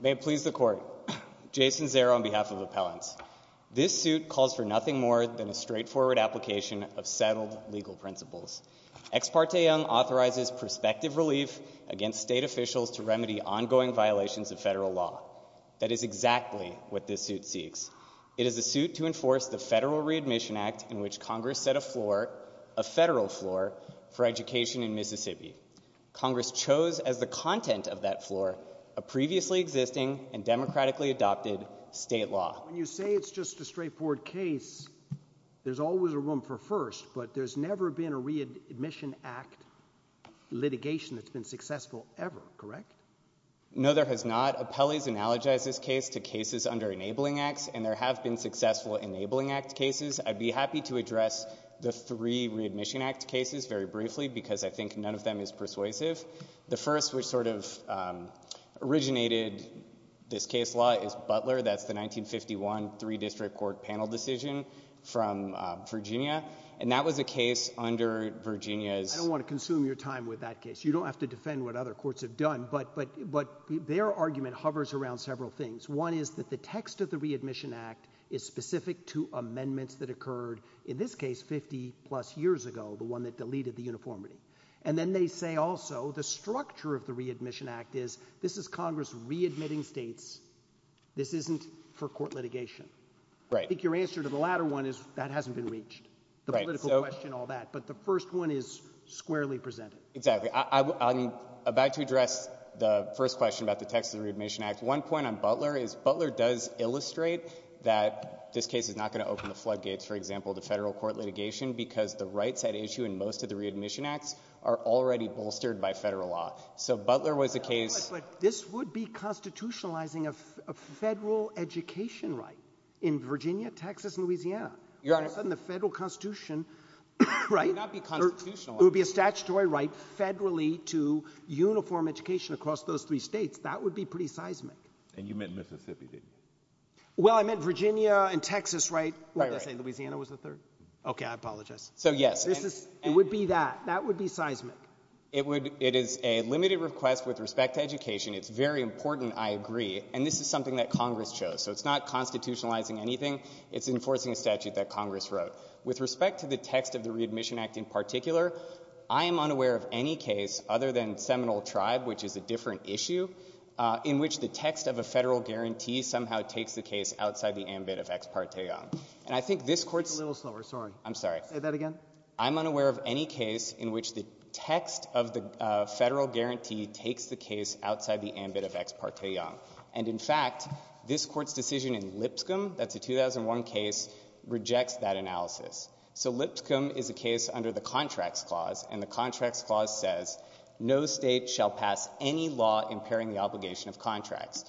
May it please the Court, Jason Zero on behalf of Appellants. This suit calls for nothing more than a straightforward application of settled legal principles. Ex parte Young authorizes prospective relief against state officials to remedy ongoing violations of federal law. That is exactly what this suit seeks. It is a suit to enforce the Federal Readmission Act in which Congress set a floor, a federal floor for education in Mississippi. Congress chose as the content of that floor a previously existing and democratically adopted state law. When you say it's just a straightforward case, there's always a room for first, but there's never been a readmission act litigation that's been successful ever, correct? No, there has not. Appellees analogize this case to cases under Enabling Acts, and there have been successful Enabling Act cases. I'd be happy to address the three Readmission Act cases very briefly because I think none of them is persuasive. The first which sort of originated this case law is Butler. That's the 1951 three-district court panel decision from Virginia, and that was a case under Virginia's— I don't want to consume your time with that case. You don't have to defend what other courts have done, but their argument hovers around several things. One is that the text of the Readmission Act is specific to amendments that occurred in this case 50-plus years ago, the one that deleted the uniformity. And then they say also the structure of the Readmission Act is this is Congress readmitting states. This isn't for court litigation. I think your answer to the latter one is that hasn't been reached, the political question, all that. But the first one is squarely presented. Exactly. I'm about to address the first question about the text of the Readmission Act. One point on Butler is Butler does illustrate that this case is not going to open the floodgates, for example, to Federal court litigation because the rights at issue in most of the Readmission Acts are already bolstered by Federal law. So Butler was a case— But this would be constitutionalizing a Federal education right in Virginia, Texas, and Louisiana. Your Honor— All of a sudden the Federal Constitution— Right? It would not be constitutional. It would be a statutory right federally to uniform education across those three states. That would be pretty seismic. And you meant Mississippi, didn't you? Well, I meant Virginia and Texas, right? Right, right. What did I say? Louisiana was the third? Okay, I apologize. So, yes. This is— It would be that. That would be seismic. It would—it is a limited request with respect to education. It's very important. I agree. And this is something that Congress chose. So it's not constitutionalizing anything. It's enforcing a statute that Congress wrote. With respect to the text of the Readmission Act in particular, I am unaware of any case other than Seminole Tribe, which is a different issue, in which the text of a Federal guarantee somehow takes the case outside the ambit of Ex parte Young. And I think this Court's— A little slower. Sorry. I'm sorry. Say that again. I'm unaware of any case in which the text of the Federal guarantee takes the case outside the ambit of Ex parte Young. And in fact, this Court's decision in Lipscomb—that's a 2001 case—rejects that analysis. So Lipscomb is a case under the Contracts Clause, and the Contracts Clause says no state shall pass any law impairing the obligation of contracts.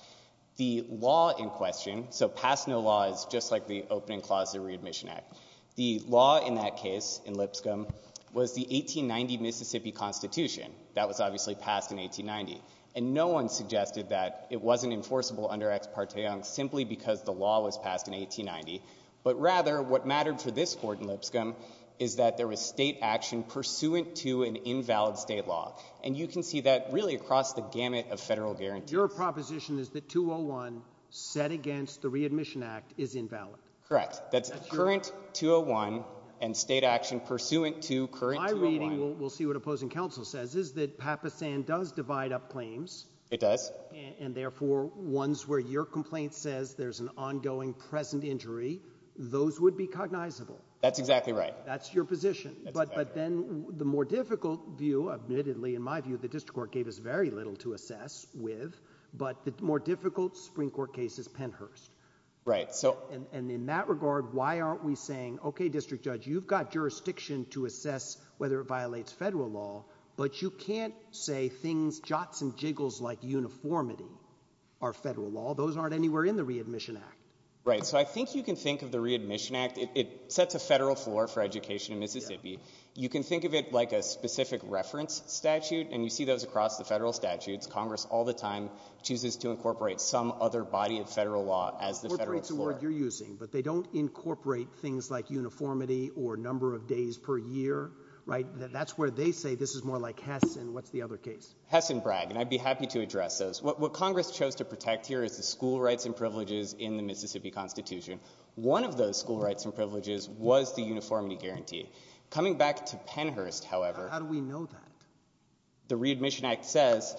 The law in question—so pass no law is just like the opening clause of the Readmission Act. The law in that case, in Lipscomb, was the 1890 Mississippi Constitution. That was obviously passed in 1890. And no one suggested that it wasn't enforceable under Ex parte Young simply because the law was passed in 1890. But rather, what mattered for this Court in Lipscomb is that there was state action pursuant to an invalid state law. And you can see that really across the gamut of Federal guarantees. Your proposition is that 201, set against the Readmission Act, is invalid. Correct. That's current 201 and state action pursuant to current 201. My reading—we'll see what opposing counsel says—is that Papasan does divide up claims. It does. And therefore, ones where your complaint says there's an ongoing present injury, those would be cognizable. That's exactly right. That's your position. But then the more difficult view—admittedly, in my view, the District Court gave us very little to assess with—but the more difficult Supreme Court case is Pennhurst. And in that regard, why aren't we saying, okay, District Judge, you've got jurisdiction to assess whether it violates Federal law, but you can't say things—jots and jiggles like uniformity are Federal law. Those aren't anywhere in the Readmission Act. Right. So I think you can think of the Readmission Act—it sets a Federal floor for education in Mississippi. You can think of it like a specific reference statute, and you see those across the Federal statutes. Congress all the time chooses to incorporate some other body of Federal law as the Federal floor. That's the word you're using, but they don't incorporate things like uniformity or number of days per year, right? That's where they say this is more like Hess, and what's the other case? Hess and Bragg, and I'd be happy to address those. What Congress chose to protect here is the school rights and privileges in the Mississippi Constitution. One of those school rights and privileges was the uniformity guarantee. Coming back to Pennhurst, however— How do we know that? The Readmission Act says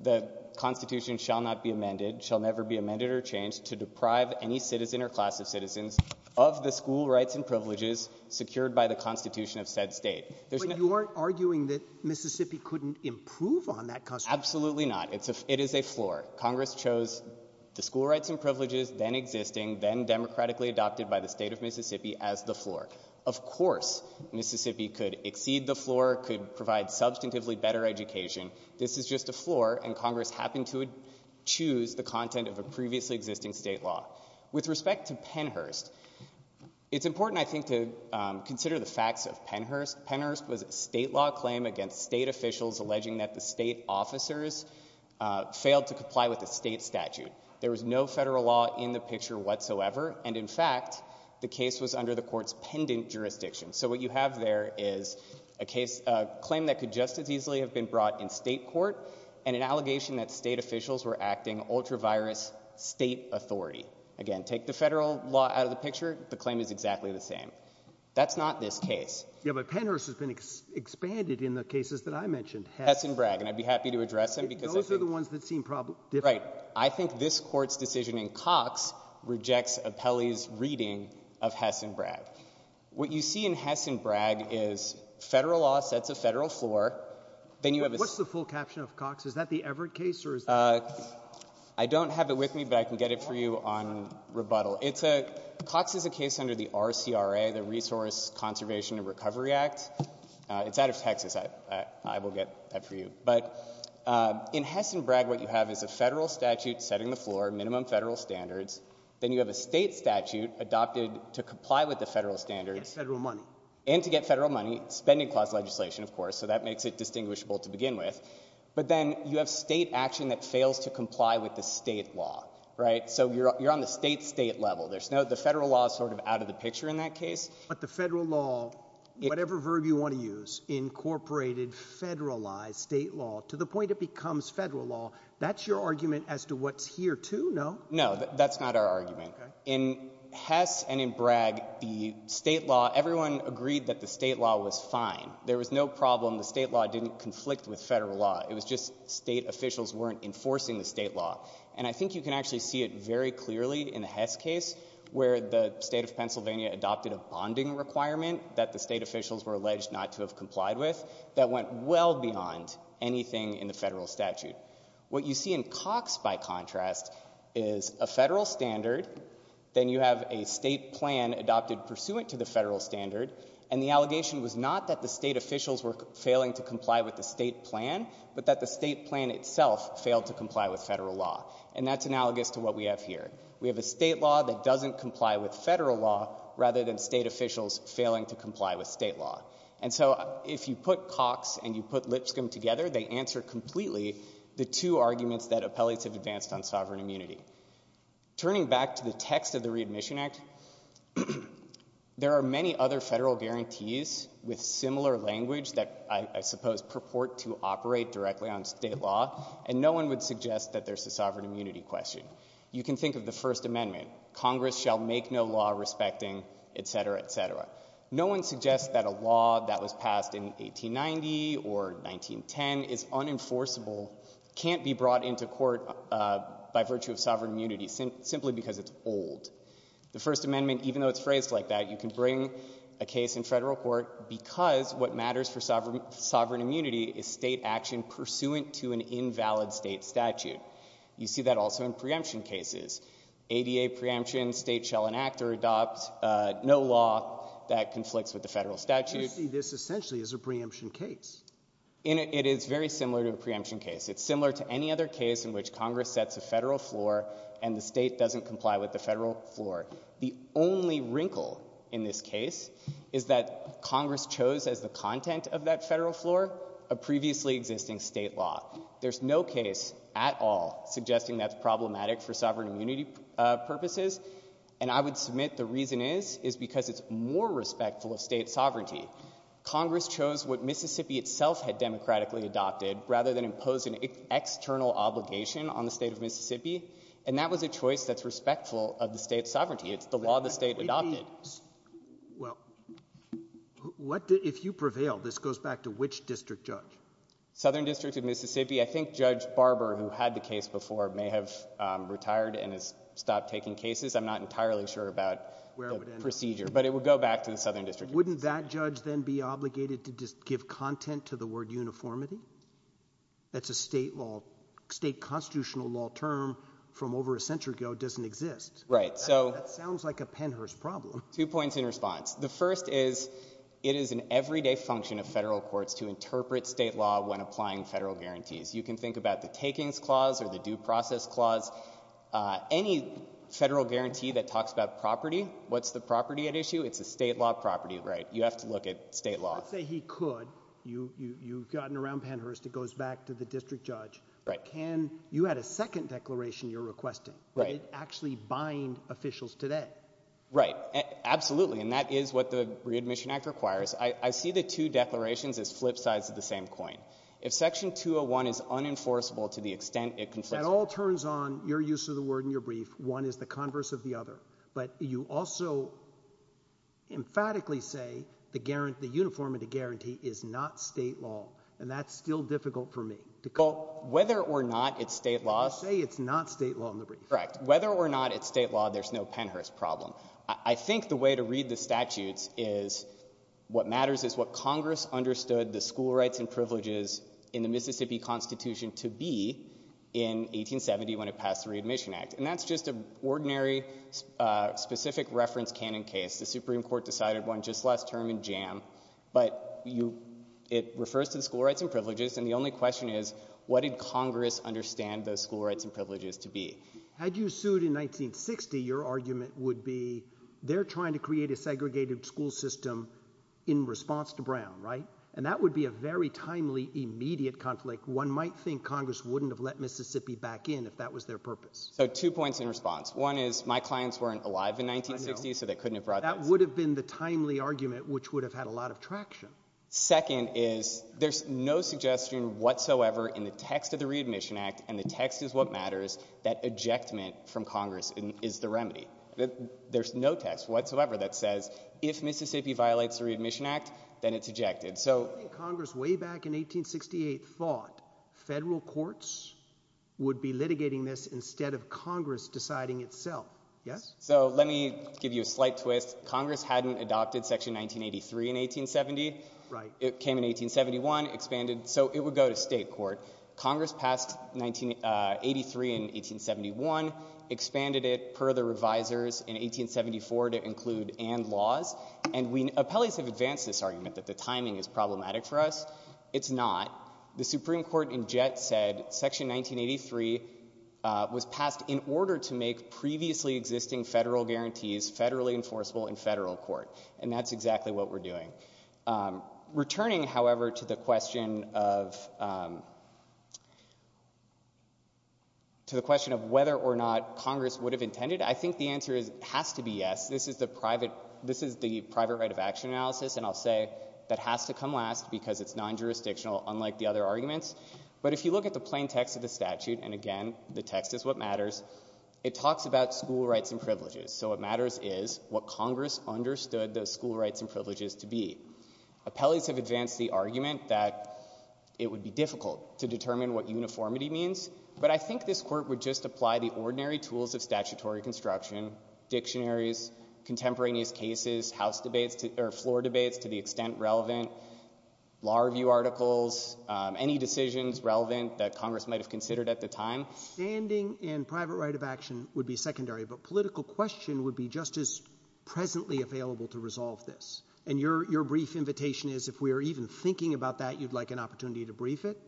the Constitution shall not be amended, shall never be amended or changed to deprive any citizen or class of citizens of the school rights and privileges secured by the Constitution of said state. But you aren't arguing that Mississippi couldn't improve on that Constitution? Absolutely not. It is a floor. Congress chose the school rights and privileges then existing, then democratically adopted by the state of Mississippi as the floor. Of course Mississippi could exceed the floor, could provide substantively better education. This is just a floor, and Congress happened to choose the content of a previously existing state law. With respect to Pennhurst, it's important, I think, to consider the facts of Pennhurst. Pennhurst was a state law claim against state officials alleging that the state officers failed to comply with the state statute. There was no federal law in the picture whatsoever, and in fact, the case was under the Court's pendant jurisdiction. So what you have there is a case, a claim that could just as easily have been brought in state court, and an allegation that state officials were acting ultra-virus state authority. Again, take the federal law out of the picture, the claim is exactly the same. That's not this case. Yeah, but Pennhurst has been expanded in the cases that I mentioned. Hess and Bragg. And I'd be happy to address them. Those are the ones that seem different. Right. I think this Court's decision in Cox rejects Apelli's reading of Hess and Bragg. What you see in Hess and Bragg is federal law sets a federal floor, then you have a What's the full caption of Cox? Is that the Everett case, or is that? I don't have it with me, but I can get it for you on rebuttal. It's a, Cox is a case under the RCRA, the Resource Conservation and Recovery Act. It's out of Texas. I will get that for you. But in Hess and Bragg, what you have is a federal statute setting the floor, minimum federal standards, then you have a state statute adopted to comply with the federal standards. And federal money. And to get federal money. Spending clause legislation, of course, so that makes it distinguishable to begin with. But then you have state action that fails to comply with the state law, right? So you're on the state-state level. There's no, the federal law is sort of out of the picture in that case. But the federal law, whatever verb you want to use, incorporated, federalized state law to the point it becomes federal law. That's your argument as to what's here, too, no? No, that's not our argument. In Hess and in Bragg, the state law, everyone agreed that the state law was fine. There was no problem. The state law didn't conflict with federal law. It was just state officials weren't enforcing the state law. And I think you can actually see it very clearly in the Hess case, where the state of Pennsylvania adopted a bonding requirement that the state officials were alleged not to have complied with that went well beyond anything in the federal statute. What you see in Cox, by contrast, is a federal standard, then you have a state plan adopted pursuant to the federal standard, and the allegation was not that the state officials were failing to comply with the state plan, but that the state plan itself failed to comply with federal law. And that's analogous to what we have here. We have a state law that doesn't comply with federal law, rather than state officials failing to comply with state law. And so if you put Cox and you put Lipscomb together, they answer completely the two arguments that appellates have advanced on sovereign immunity. Turning back to the text of the Readmission Act, there are many other federal guarantees with similar language that I suppose purport to operate directly on state law, and no one would suggest that there's a sovereign immunity question. You can think of the First Amendment, Congress shall make no law respecting etc., etc. No one suggests that a law that was passed in 1890 or 1910 is unenforceable, can't be brought into court by virtue of sovereign immunity, simply because it's old. The First Amendment, even though it's phrased like that, you can bring a case in federal court because what matters for sovereign immunity is state action pursuant to an invalid state statute. You see that also in preemption cases. ADA preemption, state shall enact or adopt no law that conflicts with the federal statute. You see this essentially as a preemption case. It is very similar to a preemption case. It's similar to any other case in which Congress sets a federal floor and the state doesn't comply with the federal floor. The only wrinkle in this case is that Congress chose as the content of that federal floor a previously existing state law. There's no case at all suggesting that's problematic for sovereign immunity purposes. And I would submit the reason is, is because it's more respectful of state sovereignty. Congress chose what Mississippi itself had democratically adopted rather than impose an external obligation on the state of Mississippi. And that was a choice that's respectful of the state's sovereignty. It's the law the state adopted. Well, what if you prevail, this goes back to which district judge? Southern District of Mississippi. I think Judge Barber, who had the case before, may have retired and has stopped taking cases. I'm not entirely sure about the procedure, but it would go back to the Southern District. Wouldn't that judge then be obligated to just give content to the word uniformity? That's a state law, state constitutional law term from over a century ago doesn't exist. Right. So that sounds like a Pennhurst problem. Two points in response. The first is, it is an everyday function of federal courts to interpret state law when applying federal guarantees. You can think about the takings clause or the due process clause. Any federal guarantee that talks about property, what's the property at issue? It's a state law property. Right. You have to look at state law. Let's say he could, you've gotten around Pennhurst, it goes back to the district judge. Right. Can, you had a second declaration you're requesting, would it actually bind officials today? Right. Absolutely. And that is what the readmission act requires. I see the two declarations as flip sides of the same coin. If section 201 is unenforceable to the extent it conflicts. That all turns on your use of the word in your brief. One is the converse of the other. But you also emphatically say the guarantee, the uniformity guarantee is not state law. And that's still difficult for me to call. Whether or not it's state law. Say it's not state law in the brief. Correct. Whether or not it's state law, there's no Pennhurst problem. I think the way to read the statutes is what matters is what Congress understood the school rights and privileges in the Mississippi constitution to be in 1870 when it passed the readmission act. And that's just an ordinary specific reference canon case. The Supreme Court decided one just last term in jam. But you, it refers to the school rights and privileges and the only question is what did Congress understand those school rights and privileges to be? Had you sued in 1960, your argument would be they're trying to create a segregated school system in response to Brown, right? And that would be a very timely immediate conflict. One might think Congress wouldn't have let Mississippi back in if that was their purpose. So two points in response. One is my clients weren't alive in 1960 so they couldn't have brought this. That would have been the timely argument which would have had a lot of traction. Second is there's no suggestion whatsoever in the text of the readmission act and the rejectment from Congress is the remedy. There's no text whatsoever that says if Mississippi violates the readmission act then it's ejected. So Congress way back in 1868 thought federal courts would be litigating this instead of Congress deciding itself, yes? So let me give you a slight twist. Congress hadn't adopted section 1983 in 1870. It came in 1871, expanded so it would go to state court. Congress passed 1983 in 1871, expanded it per the revisers in 1874 to include and laws. And appellees have advanced this argument that the timing is problematic for us. It's not. The Supreme Court in Jett said section 1983 was passed in order to make previously existing federal guarantees federally enforceable in federal court. And that's exactly what we're doing. Returning, however, to the question of whether or not Congress would have intended, I think the answer has to be yes. This is the private right of action analysis and I'll say that has to come last because it's non-jurisdictional unlike the other arguments. But if you look at the plain text of the statute, and again the text is what matters, it talks about school rights and privileges. So what matters is what Congress understood those school rights and privileges to be. Appellees have advanced the argument that it would be difficult to determine what uniformity means. But I think this court would just apply the ordinary tools of statutory construction, dictionaries, contemporaneous cases, house debates or floor debates to the extent relevant, law review articles, any decisions relevant that Congress might have considered at the time. So standing and private right of action would be secondary, but political question would be just as presently available to resolve this. And your brief invitation is if we are even thinking about that, you'd like an opportunity to brief it?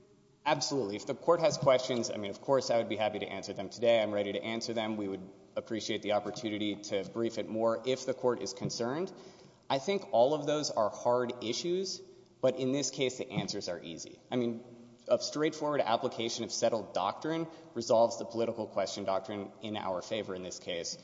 Absolutely. If the court has questions, I mean, of course I would be happy to answer them today. I'm ready to answer them. We would appreciate the opportunity to brief it more if the court is concerned. I think all of those are hard issues, but in this case the answers are easy. I mean, a straightforward application of settled doctrine resolves the political question doctrine in our favor in this case.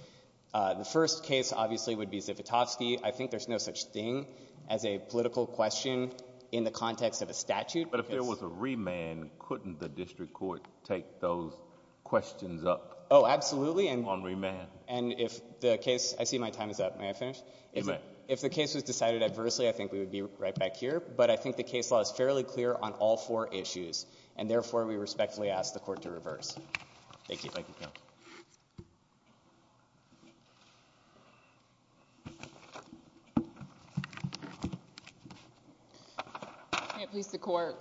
The first case obviously would be Zivotofsky. I think there's no such thing as a political question in the context of a statute. But if there was a remand, couldn't the district court take those questions up? Oh, absolutely. On remand. And if the case — I see my time is up. May I finish? You may. If the case was decided adversely, I think we would be right back here. But I think the case law is fairly clear on all four issues, and therefore we respectfully ask the court to reverse. Thank you. Thank you. May it please the court.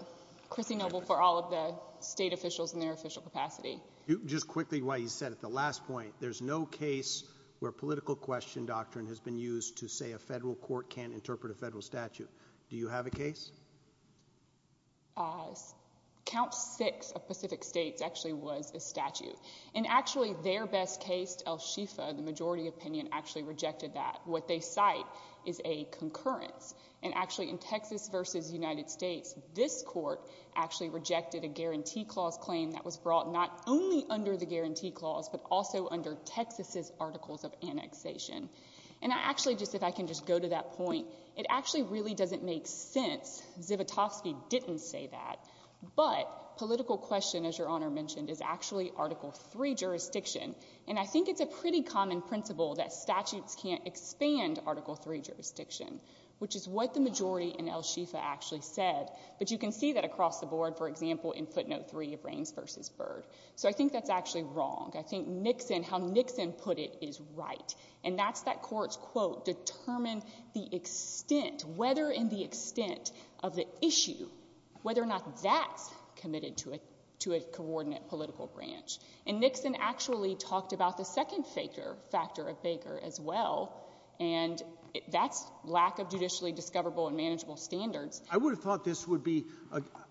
Chrissy Noble for all of the state officials in their official capacity. Just quickly, what you said at the last point. There's no case where political question doctrine has been used to say a federal court can't interpret a federal statute. Do you have a case? Count 6 of Pacific States actually was a statute. And actually, their best case, El Shifa, the majority opinion, actually rejected that. What they cite is a concurrence. And actually, in Texas v. United States, this court actually rejected a Guarantee Clause claim that was brought not only under the Guarantee Clause, but also under Texas' articles of annexation. And actually, just if I can just go to that point, it actually really doesn't make sense. Zivotofsky didn't say that. But political question, as Your Honor mentioned, is actually Article III jurisdiction. And I think it's a pretty common principle that statutes can't expand Article III jurisdiction, which is what the majority in El Shifa actually said. But you can see that across the board, for example, in footnote 3 of Reins v. Byrd. So I think that's actually wrong. I think Nixon, how Nixon put it, is right. And that's that court's quote, determine the extent, whether in the extent of the issue, whether or not that's committed to a coordinate political branch. And Nixon actually talked about the second factor of Baker as well, and that's lack of judicially discoverable and manageable standards. I would have thought this would be,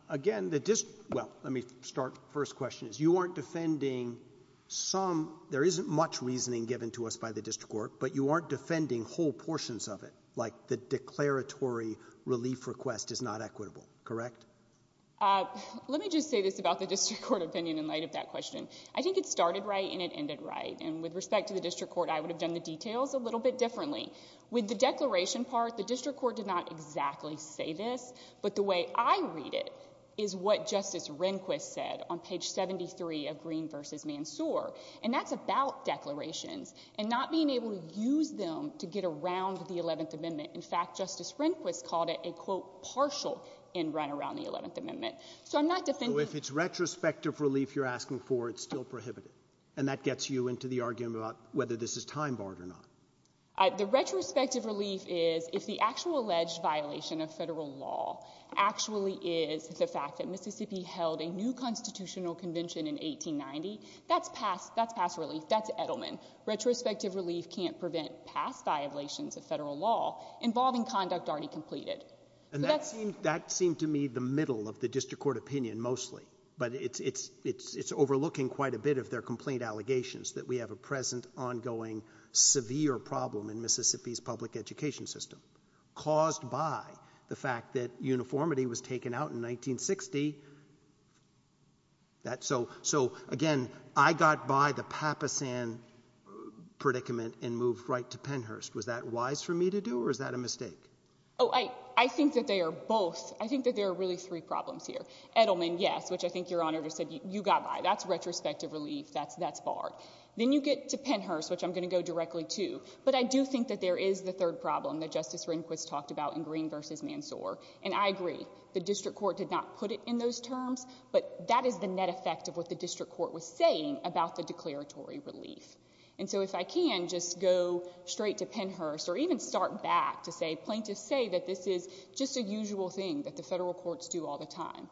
again, the dis—well, let me start. First question is, you aren't defending some—there isn't much reasoning given to us by the district court, but you aren't defending whole portions of it, like the declaratory relief request is not equitable, correct? Let me just say this about the district court opinion in light of that question. I think it started right and it ended right. And with respect to the district court, I would have done the details a little bit differently. With the declaration part, the district court did not exactly say this. But the way I read it is what Justice Rehnquist said on page 73 of Green v. Mansour. And that's about declarations and not being able to use them to get around the Eleventh Amendment. In fact, Justice Rehnquist called it a, quote, partial in run around the Eleventh Amendment. So I'm not defending— So if it's retrospective relief you're asking for, it's still prohibited? And that gets you into the argument about whether this is time-barred or not? The retrospective relief is, if the actual alleged violation of Federal law actually is the fact that Mississippi held a new constitutional convention in 1890, that's past—that's past relief. That's Edelman. Retrospective relief can't prevent past violations of Federal law involving conduct already completed. And that seemed to me the middle of the district court opinion mostly. But it's overlooking quite a bit of their complaint allegations that we have a present ongoing severe problem in Mississippi's public education system caused by the fact that uniformity was taken out in 1960. So again, I got by the Papasan predicament and moved right to Pennhurst. Was that wise for me to do or is that a mistake? I think that they are both—I think that there are really three problems here. Edelman, yes, which I think Your Honor just said you got by. That's retrospective relief. That's barred. Then you get to Pennhurst, which I'm going to go directly to. But I do think that there is the third problem that Justice Rehnquist talked about in Green v. Mansoor. And I agree, the district court did not put it in those terms, but that is the net effect of what the district court was saying about the declaratory relief. And so if I can just go straight to Pennhurst or even start back to say plaintiffs say that this is just a usual thing that the Federal courts do all the time.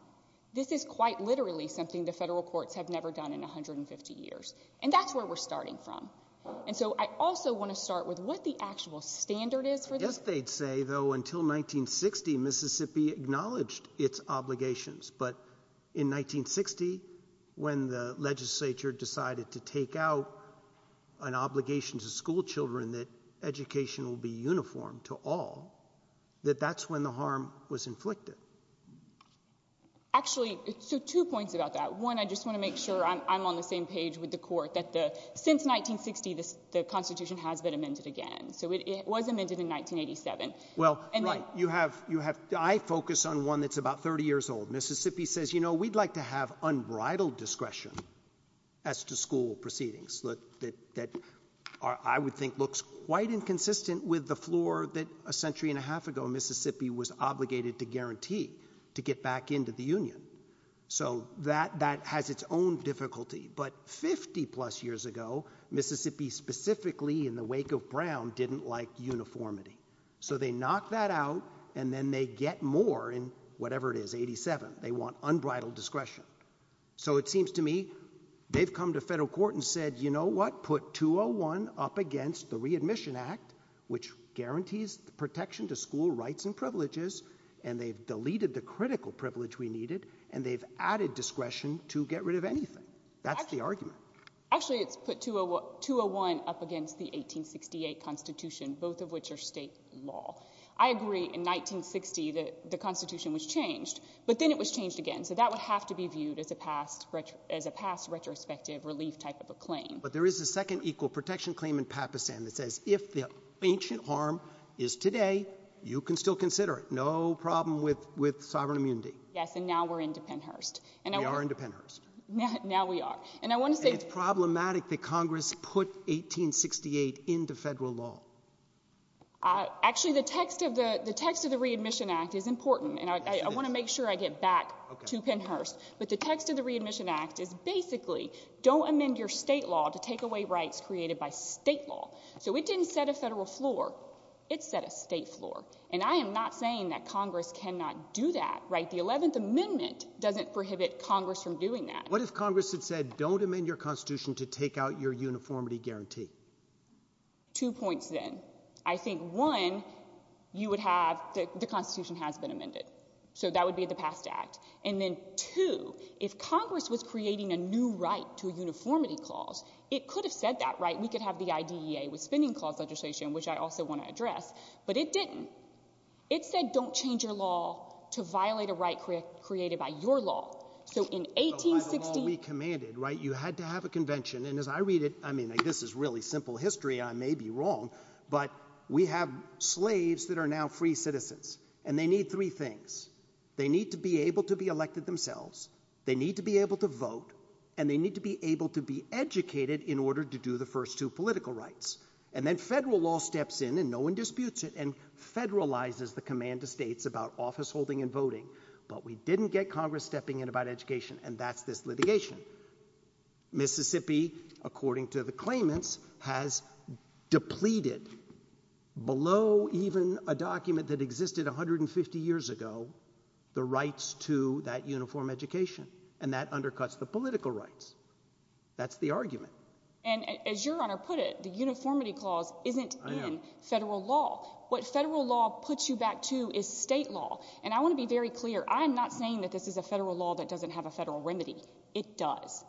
This is quite literally something the Federal courts have never done in 150 years. And that's where we're starting from. And so I also want to start with what the actual standard is for this. I guess they'd say, though, until 1960, Mississippi acknowledged its obligations. But in 1960, when the legislature decided to take out an obligation to schoolchildren that education will be uniform to all, that that's when the harm was inflicted. Actually, so two points about that. One, I just want to make sure I'm on the same page with the court, that since 1960, the Constitution has been amended again. So it was amended in 1987. Well, you have you have I focus on one that's about 30 years old. Mississippi says, you know, we'd like to have unbridled discretion as to school proceedings that that are I would think looks quite inconsistent with the floor that a century and a half ago, Mississippi was obligated to guarantee to get back into the union. So that that has its own difficulty. But 50 plus years ago, Mississippi, specifically in the wake of Brown, didn't like uniformity. So they knock that out and then they get more in whatever it is. Eighty seven. They want unbridled discretion. So it seems to me they've come to federal court and said, you know what, put two or one up against the Readmission Act, which guarantees the protection to school rights and privileges. And they've deleted the critical privilege we needed. And they've added discretion to get rid of anything. That's the argument. Actually, it's put to a to a one up against the 1868 Constitution, both of which are state law. I agree. In 1960, the Constitution was changed, but then it was changed again. So that would have to be viewed as a past as a past retrospective relief type of a claim. But there is a second equal protection claim in Pakistan that says if the ancient harm is today, you can still consider it. No problem with with sovereign immunity. Yes. And now we're independent. Hearst and they are independent. Now we are. And I want to say it's problematic that Congress put 1868 into federal law. Actually, the text of the text of the Readmission Act is important, and I want to make sure I get back to Pennhurst. But the text of the Readmission Act is basically don't amend your state law to take away rights created by state law. So it didn't set a federal floor. It set a state floor. And I am not saying that Congress cannot do that. Right. The 11th Amendment doesn't prohibit Congress from doing that. What if Congress had said, don't amend your constitution to take out your uniformity guarantee? Two points, then I think, one, you would have the Constitution has been amended. So that would be the past act. And then, too, if Congress was creating a new right to a uniformity clause, it could have said that. Right. We could have the idea with spending clause legislation, which I also want to address. But it didn't. It said, don't change your law to violate a right created by your law. So in 1860, we commanded. Right. You had to have a convention. And as I read it, I mean, this is really simple history. I may be wrong, but we have slaves that are now free citizens and they need three things. They need to be able to be elected themselves. They need to be able to vote and they need to be able to be educated in order to do the first two political rights. And then federal law steps in and no one disputes it and federalizes the command of states about office holding and voting. But we didn't get Congress stepping in about education. And that's this litigation. Mississippi, according to the claimants, has depleted below even a document that existed 150 years ago, the rights to that uniform education and that undercuts the political rights. That's the argument. And as your honor put it, the uniformity clause isn't in federal law. What federal law puts you back to is state law. And I want to be very clear. I'm not saying that this is a federal law that doesn't have a federal remedy. It does.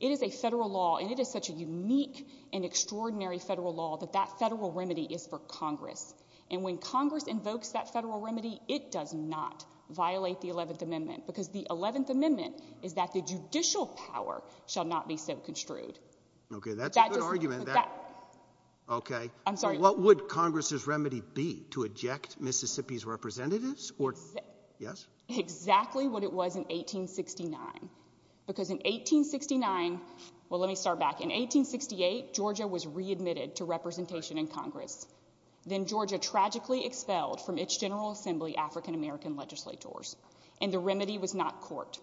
It is a federal law and it is such a unique and extraordinary federal law that that federal remedy is for Congress. And when Congress invokes that federal remedy, it does not violate the 11th Amendment, because the 11th Amendment is that the judicial power shall not be so extrude. OK, that's a good argument. OK, I'm sorry. What would Congress's remedy be to eject Mississippi's representatives or. Yes, exactly what it was in 1869, because in 1869. Well, let me start back in 1868. Georgia was readmitted to representation in Congress. Then Georgia tragically expelled from its General Assembly African-American legislators. And the remedy was not court.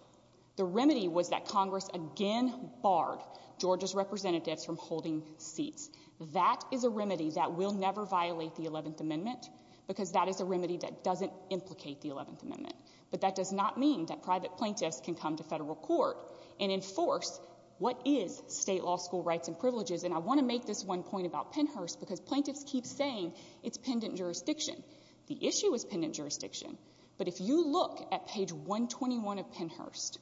The remedy was that Congress again barred Georgia's representatives from holding seats. That is a remedy that will never violate the 11th Amendment, because that is a remedy that doesn't implicate the 11th Amendment. But that does not mean that private plaintiffs can come to federal court and enforce what is state law, school rights and privileges. And I want to make this one point about Pennhurst, because plaintiffs keep saying it's pendent jurisdiction. The issue is pendent jurisdiction. But if you look at page 121 of Pennhurst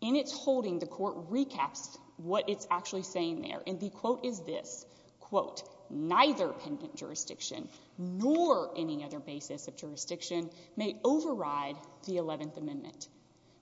in its holding, the court recaps what it's actually saying there. And the quote is this, quote, neither pendent jurisdiction nor any other basis of jurisdiction may override the 11th Amendment.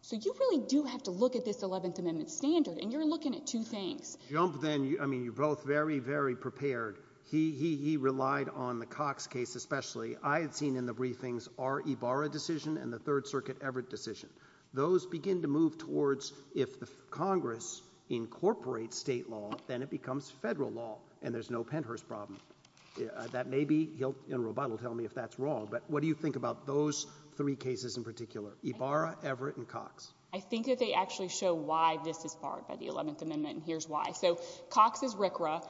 So you really do have to look at this 11th Amendment standard. And you're looking at two things. Jump then. I mean, you're both very, very prepared. He relied on the Cox case especially. I had seen in the briefings our Ibarra decision and the Third Circuit Everett decision. Those begin to move towards if the Congress incorporates state law, then it becomes federal law and there's no Pennhurst problem. That may be he'll in a rebuttal tell me if that's wrong. But what do you think about those three cases in particular, Ibarra, Everett and Cox? I think that they actually show why this is barred by the 11th Amendment. And here's why. So Cox is RCRA,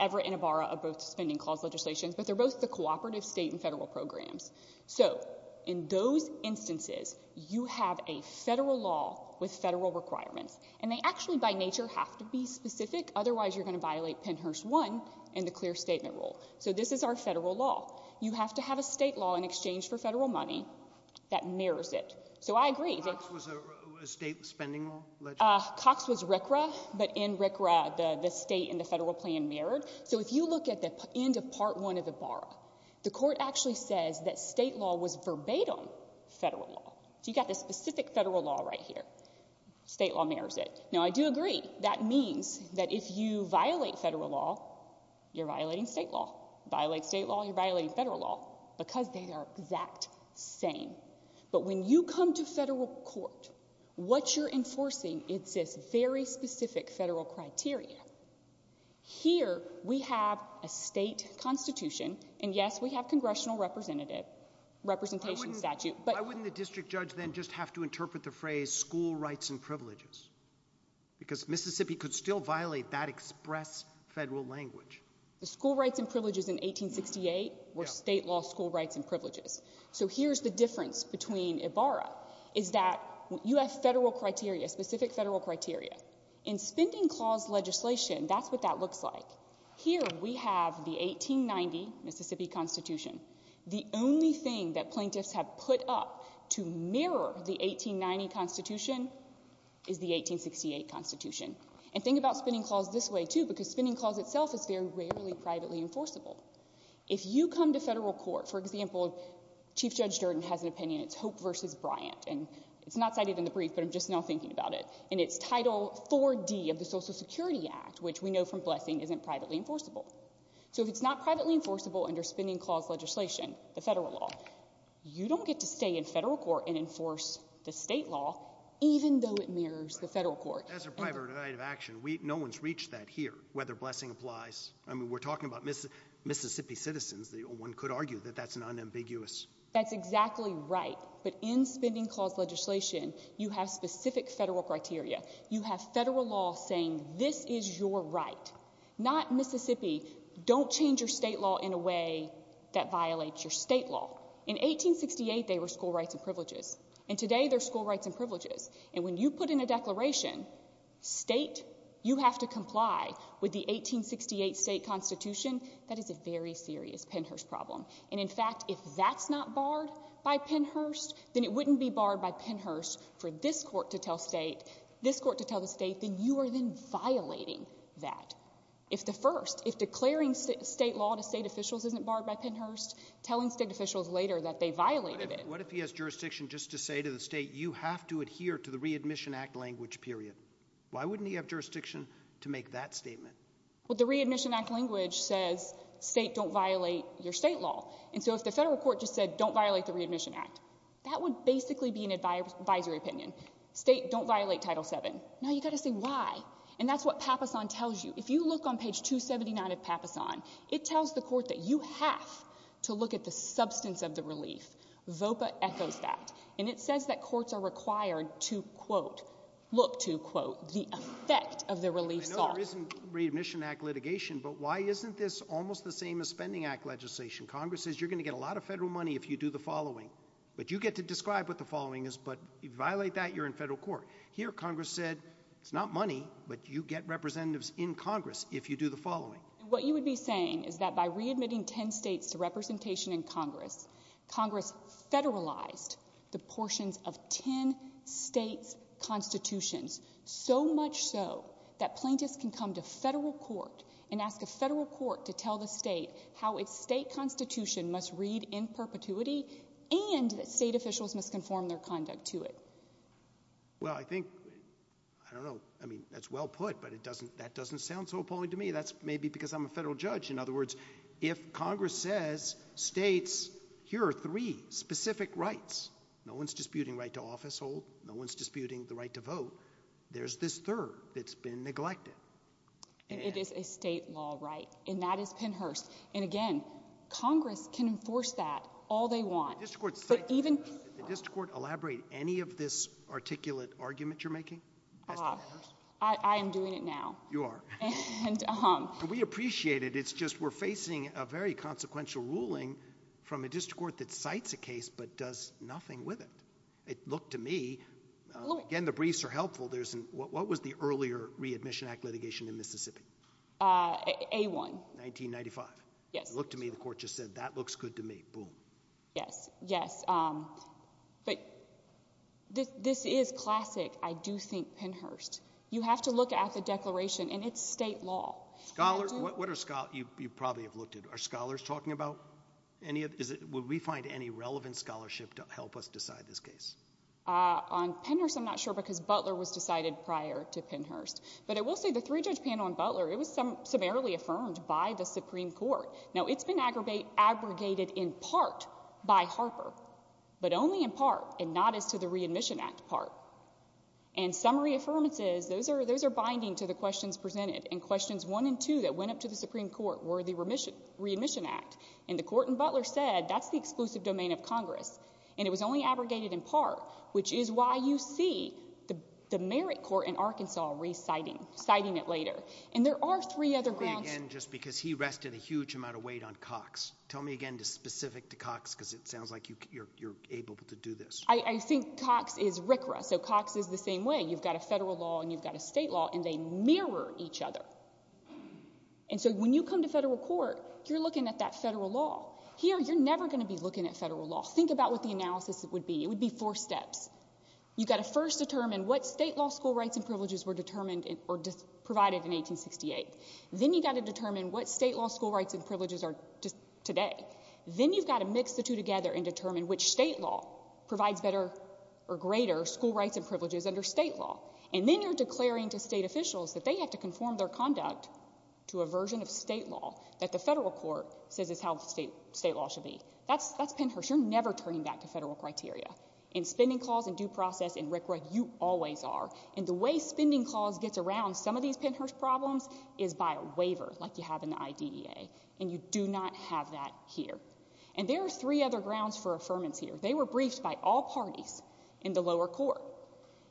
Everett and Ibarra are both suspending clause legislations, but they're both the cooperative state and federal programs. So in those instances, you have a federal law with federal requirements and they actually by nature have to be specific. Otherwise, you're going to violate Pennhurst 1 and the clear statement rule. So this is our federal law. You have to have a state law in exchange for federal money that mirrors it. So I agree. Cox was a state spending law? Cox was RCRA, but in RCRA, the state and the federal plan mirrored. So if you look at the end of part one of Ibarra, the court actually says that state law was verbatim federal law. So you got this specific federal law right here. State law mirrors it. Now, I do agree. That means that if you violate federal law, you're violating state law, violate state law, you're violating federal law because they are exact same. But when you come to federal court, what you're enforcing, it's this very specific federal criteria. Here we have a state constitution and yes, we have congressional representative representation statute. But why wouldn't the district judge then just have to interpret the phrase school rights and privileges? Because Mississippi could still violate that express federal language. The school rights and privileges in 1868 were state law, school rights and privileges. So here's the difference between Ibarra is that you have federal criteria, specific federal criteria in spending clause legislation. That's what that looks like. Here we have the 1890 Mississippi constitution. The only thing that plaintiffs have put up to mirror the 1890 constitution is the 1868 constitution. And think about spending clause this way too, because spending clause itself is very rarely privately enforceable. If you come to federal court, for example, chief judge Durden has an opinion, it's hope versus Bryant, and it's not cited in the brief, but I'm just now thinking about it and it's title four D of the social security act, which we know from blessing isn't privately enforceable. So if it's not privately enforceable under spending clause legislation, the federal law, you don't get to stay in federal court and enforce the state law, even though it mirrors the federal court. That's a private right of action. We, no one's reached that here, whether blessing applies. I mean, we're talking about Mississippi citizens. The one could argue that that's an unambiguous. That's exactly right. But in spending clause legislation, you have specific federal criteria. You have federal law saying this is your right, not Mississippi. Don't change your state law in a way that violates your state law. In 1868, they were school rights and privileges, and today they're school rights and privileges. And when you put in a declaration state, you have to comply with the 1868 state constitution. That is a very serious Pennhurst problem. And in fact, if that's not barred by Pennhurst, then it wouldn't be barred by Pennhurst for this court to tell state, this court to tell the state that you are then violating that. If the first, if declaring state law to state officials isn't barred by Pennhurst, telling state officials later that they violated it. What if he has jurisdiction just to say to the state, you have to adhere to the Readmission Act language, period? Why wouldn't he have jurisdiction to make that statement? Well, the Readmission Act language says state don't violate your state law. And so if the federal court just said, don't violate the Readmission Act, that would basically be an advisory opinion. State don't violate Title VII. Now, you've got to say why. And that's what Papasan tells you. If you look on page 279 of Papasan, it tells the court that you have to look at the substance of the relief. VOPA echoes that. And it says that courts are required to, quote, look to, quote, the effect of the Readmission Act litigation. But why isn't this almost the same as Spending Act legislation? Congress says you're going to get a lot of federal money if you do the following. But you get to describe what the following is. But if you violate that, you're in federal court. Here, Congress said, it's not money, but you get representatives in Congress if you do the following. What you would be saying is that by readmitting 10 states to representation in Congress, Congress federalized the portions of 10 states' constitutions, so much so that plaintiffs can come to federal court and ask a federal court to tell the state how its state constitution must read in perpetuity and that state officials must conform their conduct to it. Well, I think, I don't know, I mean, that's well put, but it doesn't, that doesn't sound so appalling to me. That's maybe because I'm a federal judge. In other words, if Congress says states, here are three specific rights, no one's disputing right to office hold, no one's disputing the right to vote. There's this third that's been neglected. It is a state law, right? And that is Pennhurst. And again, Congress can enforce that all they want, but even... Did the district court elaborate any of this articulate argument you're making? I am doing it now. You are? We appreciate it. It's just, we're facing a very consequential ruling from a district court that cites a case, but does nothing with it. It looked to me, again, the briefs are helpful. There's an, what was the earlier readmission act litigation in Mississippi? Uh, A-1. 1995. Yes. Looked to me, the court just said, that looks good to me. Boom. Yes. Yes. Um, but this, this is classic. I do think Pennhurst, you have to look at the declaration and it's state law. Scholars, what are scholars, you probably have looked at, are scholars talking about any of, is it, would we find any relevant scholarship to help us decide this case? Uh, on Pennhurst, I'm not sure because Butler was decided prior to Pennhurst, but I will say the three judge panel on Butler, it was some, summarily affirmed by the Supreme court. Now it's been aggravate, abrogated in part by Harper, but only in part and not as to the readmission act part and summary affirmances, those are, those are binding to the questions presented and questions one and two that went up to the Supreme court were the remission, readmission act and the court and Butler said, that's the exclusive domain of Congress and it was only abrogated in part, which is why you see the, the merit court in Arkansas reciting, citing it later and there are three other grounds. And just because he rested a huge amount of weight on Cox. Tell me again to specific to Cox, because it sounds like you're, you're able to do this. I think Cox is RCRA. So Cox is the same way. You've got a federal law and you've got a state law and they mirror each other. And so when you come to federal court, you're looking at that federal law here, you're never going to be looking at federal law. Think about what the analysis would be. It would be four steps. You've got to first determine what state law school rights and privileges were determined or provided in 1868. Then you got to determine what state law school rights and privileges are today. Then you've got to mix the two together and determine which state law provides better or greater school rights and privileges under state law. And then you're declaring to state officials that they have to conform their conduct to a version of state law that the federal court says is how state, state law should be. That's, that's Pennhurst. You're never turning back to federal criteria. In spending clause and due process in RCRA, you always are. And the way spending clause gets around some of these Pennhurst problems is by a waiver like you have in the IDEA. And you do not have that here. And there are three other grounds for affirmance here. They were briefed by all parties in the lower court.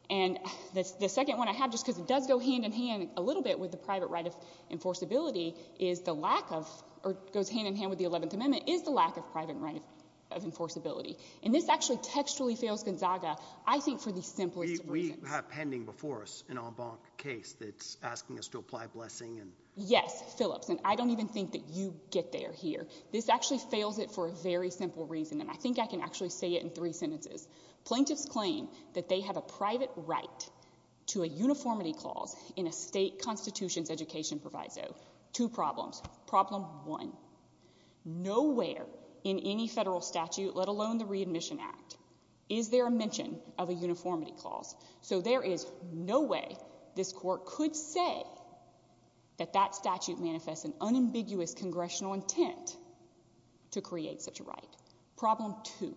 And the second one I have, just because it does go hand in hand a little bit with the private right of enforceability, is the lack of, or goes hand in hand with the 11th amendment, is the lack of private right of enforceability. And this actually textually fails Gonzaga, I think for the simplest of reasons. We have pending before us an en banc case that's asking us to apply blessing and. Yes, Phillips. And I don't even think that you get there here. This actually fails it for a very simple reason. And I think I can actually say it in three sentences. Plaintiffs claim that they have a private right to a uniformity clause in a state constitution's education proviso. Two problems. Problem one, nowhere in any federal statute, let alone the readmission act, is there a mention of a uniformity clause? So there is no way this court could say that that statute manifests an unambiguous congressional intent to create such a right. Problem two,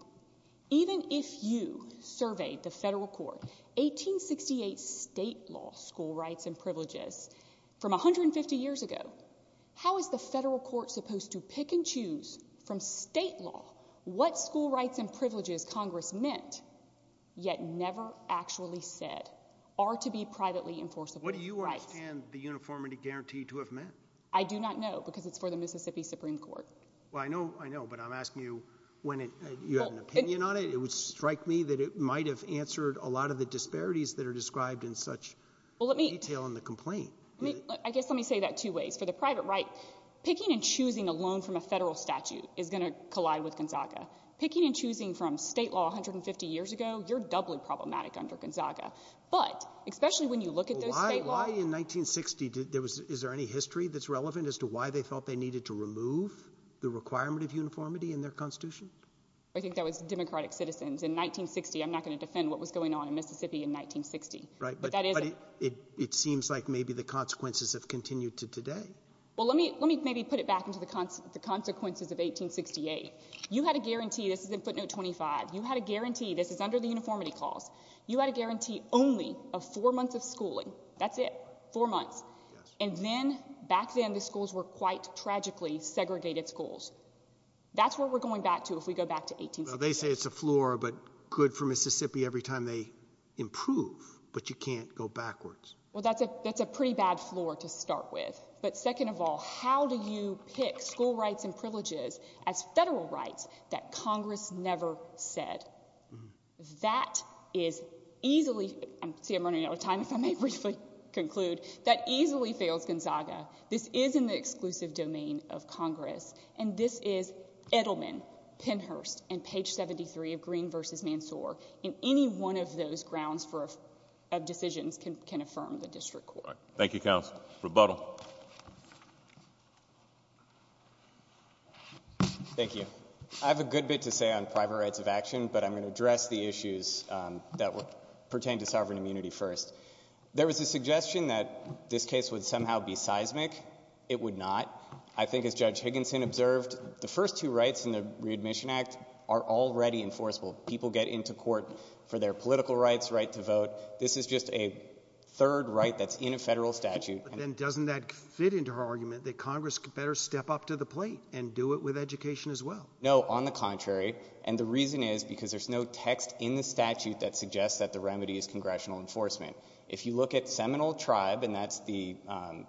even if you surveyed the federal court, 1868 state law, school rights and privileges from 150 years ago, how is the federal court supposed to pick and choose from state law what school rights and privileges Congress meant yet never actually said are to be privately enforceable? What do you want and the uniformity guarantee to have met? I do not know because it's for the Mississippi Supreme Court. Well, I know, I know. But I'm asking you when you have an opinion on it, it would strike me that it might have answered a lot of the disparities that are described in such detail in the complaint. I mean, I guess let me say that two ways. For the private right, picking and choosing a loan from a federal statute is going to collide with Gonzaga. Picking and choosing from state law 150 years ago, you're doubly problematic under Gonzaga. But especially when you look at the state law — Well, why in 1960 did there was — is there any history that's relevant as to why they felt they needed to remove the requirement of uniformity in their constitution? I think that was Democratic citizens in 1960. Right. But that is — But it seems like maybe the consequences have continued to today. Well, let me maybe put it back into the consequences of 1868. You had a guarantee — this is in footnote 25 — you had a guarantee — this is under the uniformity clause — you had a guarantee only of four months of schooling. That's it. Four months. And then, back then, the schools were quite tragically segregated schools. That's where we're going back to if we go back to 1868. Well, they say it's a floor, but good for Mississippi every time they improve. But you can't go backwards. Well, that's a pretty bad floor to start with. But second of all, how do you pick school rights and privileges as federal rights that Congress never said? That is easily — see, I'm running out of time, if I may briefly conclude. That easily fails Gonzaga. This is in the exclusive domain of Congress. And this is Edelman, Penhurst, and page 73 of Green v. Mansoor. And any one of those grounds for — of decisions can affirm the district court. Thank you, counsel. Rebuttal. Thank you. I have a good bit to say on private rights of action, but I'm going to address the issues that pertain to sovereign immunity first. There was a suggestion that this case would somehow be seismic. It would not. I think, as Judge Higginson observed, the first two rights in the Readmission Act are already enforceable. People get into court for their political rights, right to vote. This is just a third right that's in a federal statute. But then doesn't that fit into her argument that Congress could better step up to the plate and do it with education as well? No, on the contrary. And the reason is because there's no text in the statute that suggests that the remedy is congressional enforcement. If you look at Seminole Tribe, and that's the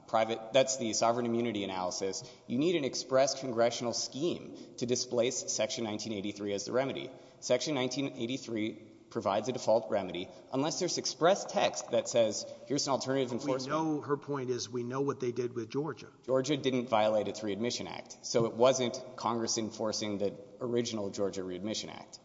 private — that's the sovereign immunity analysis, you need an express congressional scheme to displace Section 1983 as the remedy. Section 1983 provides a default remedy unless there's express text that says, here's an alternative enforcement — But we know — her point is, we know what they did with Georgia. Georgia didn't violate its Readmission Act. So it wasn't Congress enforcing the original Georgia Readmission Act.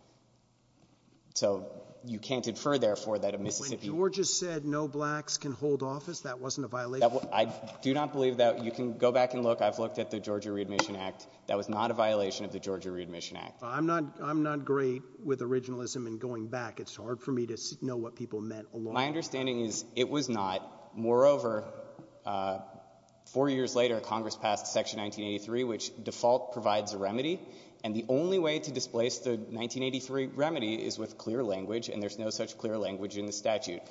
So you can't infer, therefore, that a Mississippi — When Georgia said no blacks can hold office, that wasn't a violation? I do not believe that. You can go back and look. I've looked at the Georgia Readmission Act. That was not a violation of the Georgia Readmission Act. I'm not — I'm not great with originalism and going back. It's hard for me to know what people meant along — My understanding is it was not. Moreover, four years later, Congress passed Section 1983, which default provides a remedy. And the only way to displace the 1983 remedy is with clear language, and there's no such clear language in the statute.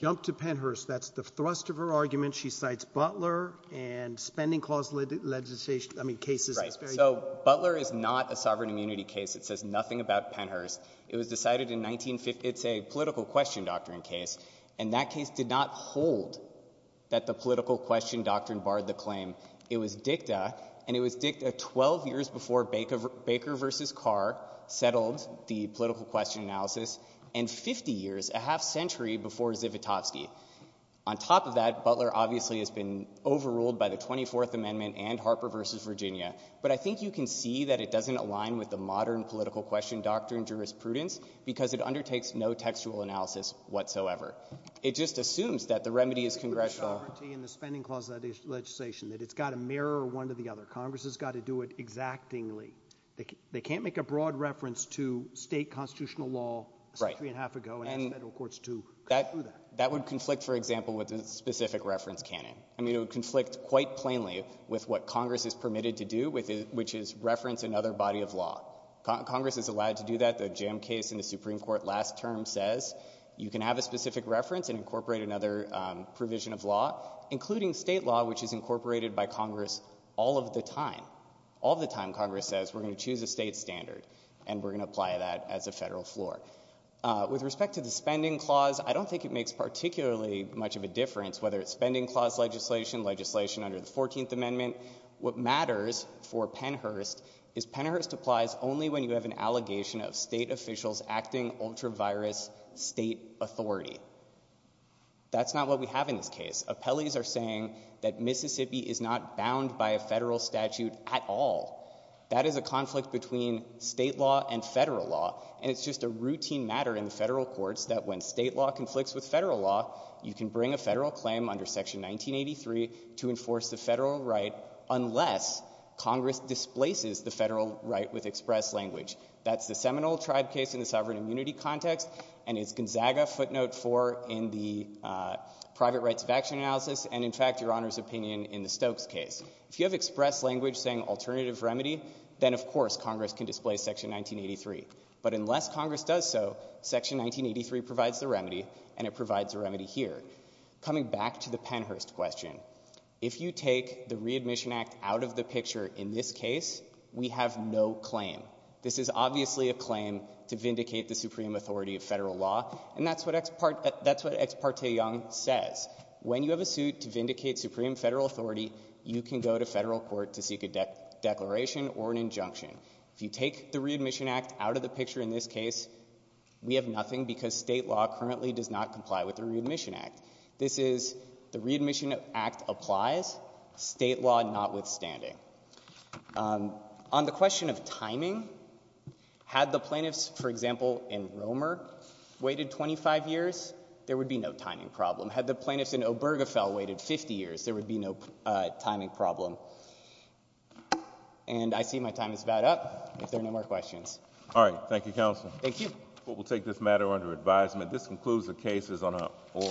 Jump to Pennhurst. That's the thrust of her argument. She cites Butler and spending clause legislation — I mean, cases — Right. So Butler is not a sovereign immunity case. It says nothing about Pennhurst. It was decided in 1950 — it's a political question doctrine case, and that case did not hold that the political question doctrine barred the claim. It was dicta, and it was dicta 12 years before Baker v. Carr settled the political question analysis and 50 years, a half-century, before Zivotofsky. On top of that, Butler obviously has been overruled by the 24th Amendment and Harper v. Virginia. But I think you can see that it doesn't align with the modern political question doctrine jurisprudence because it undertakes no textual analysis whatsoever. It just assumes that the remedy is congressional —— in the spending clause legislation, that it's got to mirror one to the other. Congress has got to do it exactingly. They can't make a broad reference to state constitutional law a century and a half ago and ask federal courts to conclude that. That would conflict, for example, with the specific reference canon. I mean, it would conflict quite plainly with what Congress is permitted to do, which is reference another body of law. Congress is allowed to do that. The jam case in the Supreme Court last term says you can have a specific reference and incorporate another provision of law, including state law, which is incorporated by Congress all of the time. All of the time, Congress says, we're going to choose a state standard and we're going to apply that as a federal floor. With respect to the spending clause, I don't think it makes particularly much of a difference whether it's spending clause legislation, legislation under the 14th Amendment. What matters for Pennhurst is Pennhurst applies only when you have an allegation of state officials acting ultra-virus state authority. That's not what we have in this case. Appellees are saying that Mississippi is not bound by a federal statute at all. That is a conflict between state law and federal law, and it's just a routine matter in federal courts that when state law conflicts with federal law, you can bring a federal claim under Section 1983 to enforce the federal right unless Congress displaces the federal right with express language. That's the Seminole Tribe case in the sovereign immunity context, and it's Gonzaga footnote four in the private rights of action analysis, and in fact, Your Honor's opinion in the Stokes case. If you have express language saying alternative remedy, then of course Congress can display Section 1983. But unless Congress does so, Section 1983 provides the remedy, and it provides the remedy here. Coming back to the Pennhurst question, if you take the Readmission Act out of the picture in this case, we have no claim. This is obviously a claim to vindicate the supreme authority of federal law, and that's what Ex parte Young says. When you have a suit to vindicate supreme federal authority, you can go to federal court to seek a declaration or an injunction. If you take the Readmission Act out of the picture in this case, we have nothing because state law currently does not comply with the Readmission Act. This is the Readmission Act applies, state law notwithstanding. On the question of timing, had the plaintiffs, for example, in Romer waited 25 years, there would be no timing problem. Had the plaintiffs in Obergefell waited 50 years, there would be no timing problem. And I see my time is about up, if there are no more questions. All right. Thank you, counsel. Thank you. We will take this matter under advisement. This concludes the cases on our floor.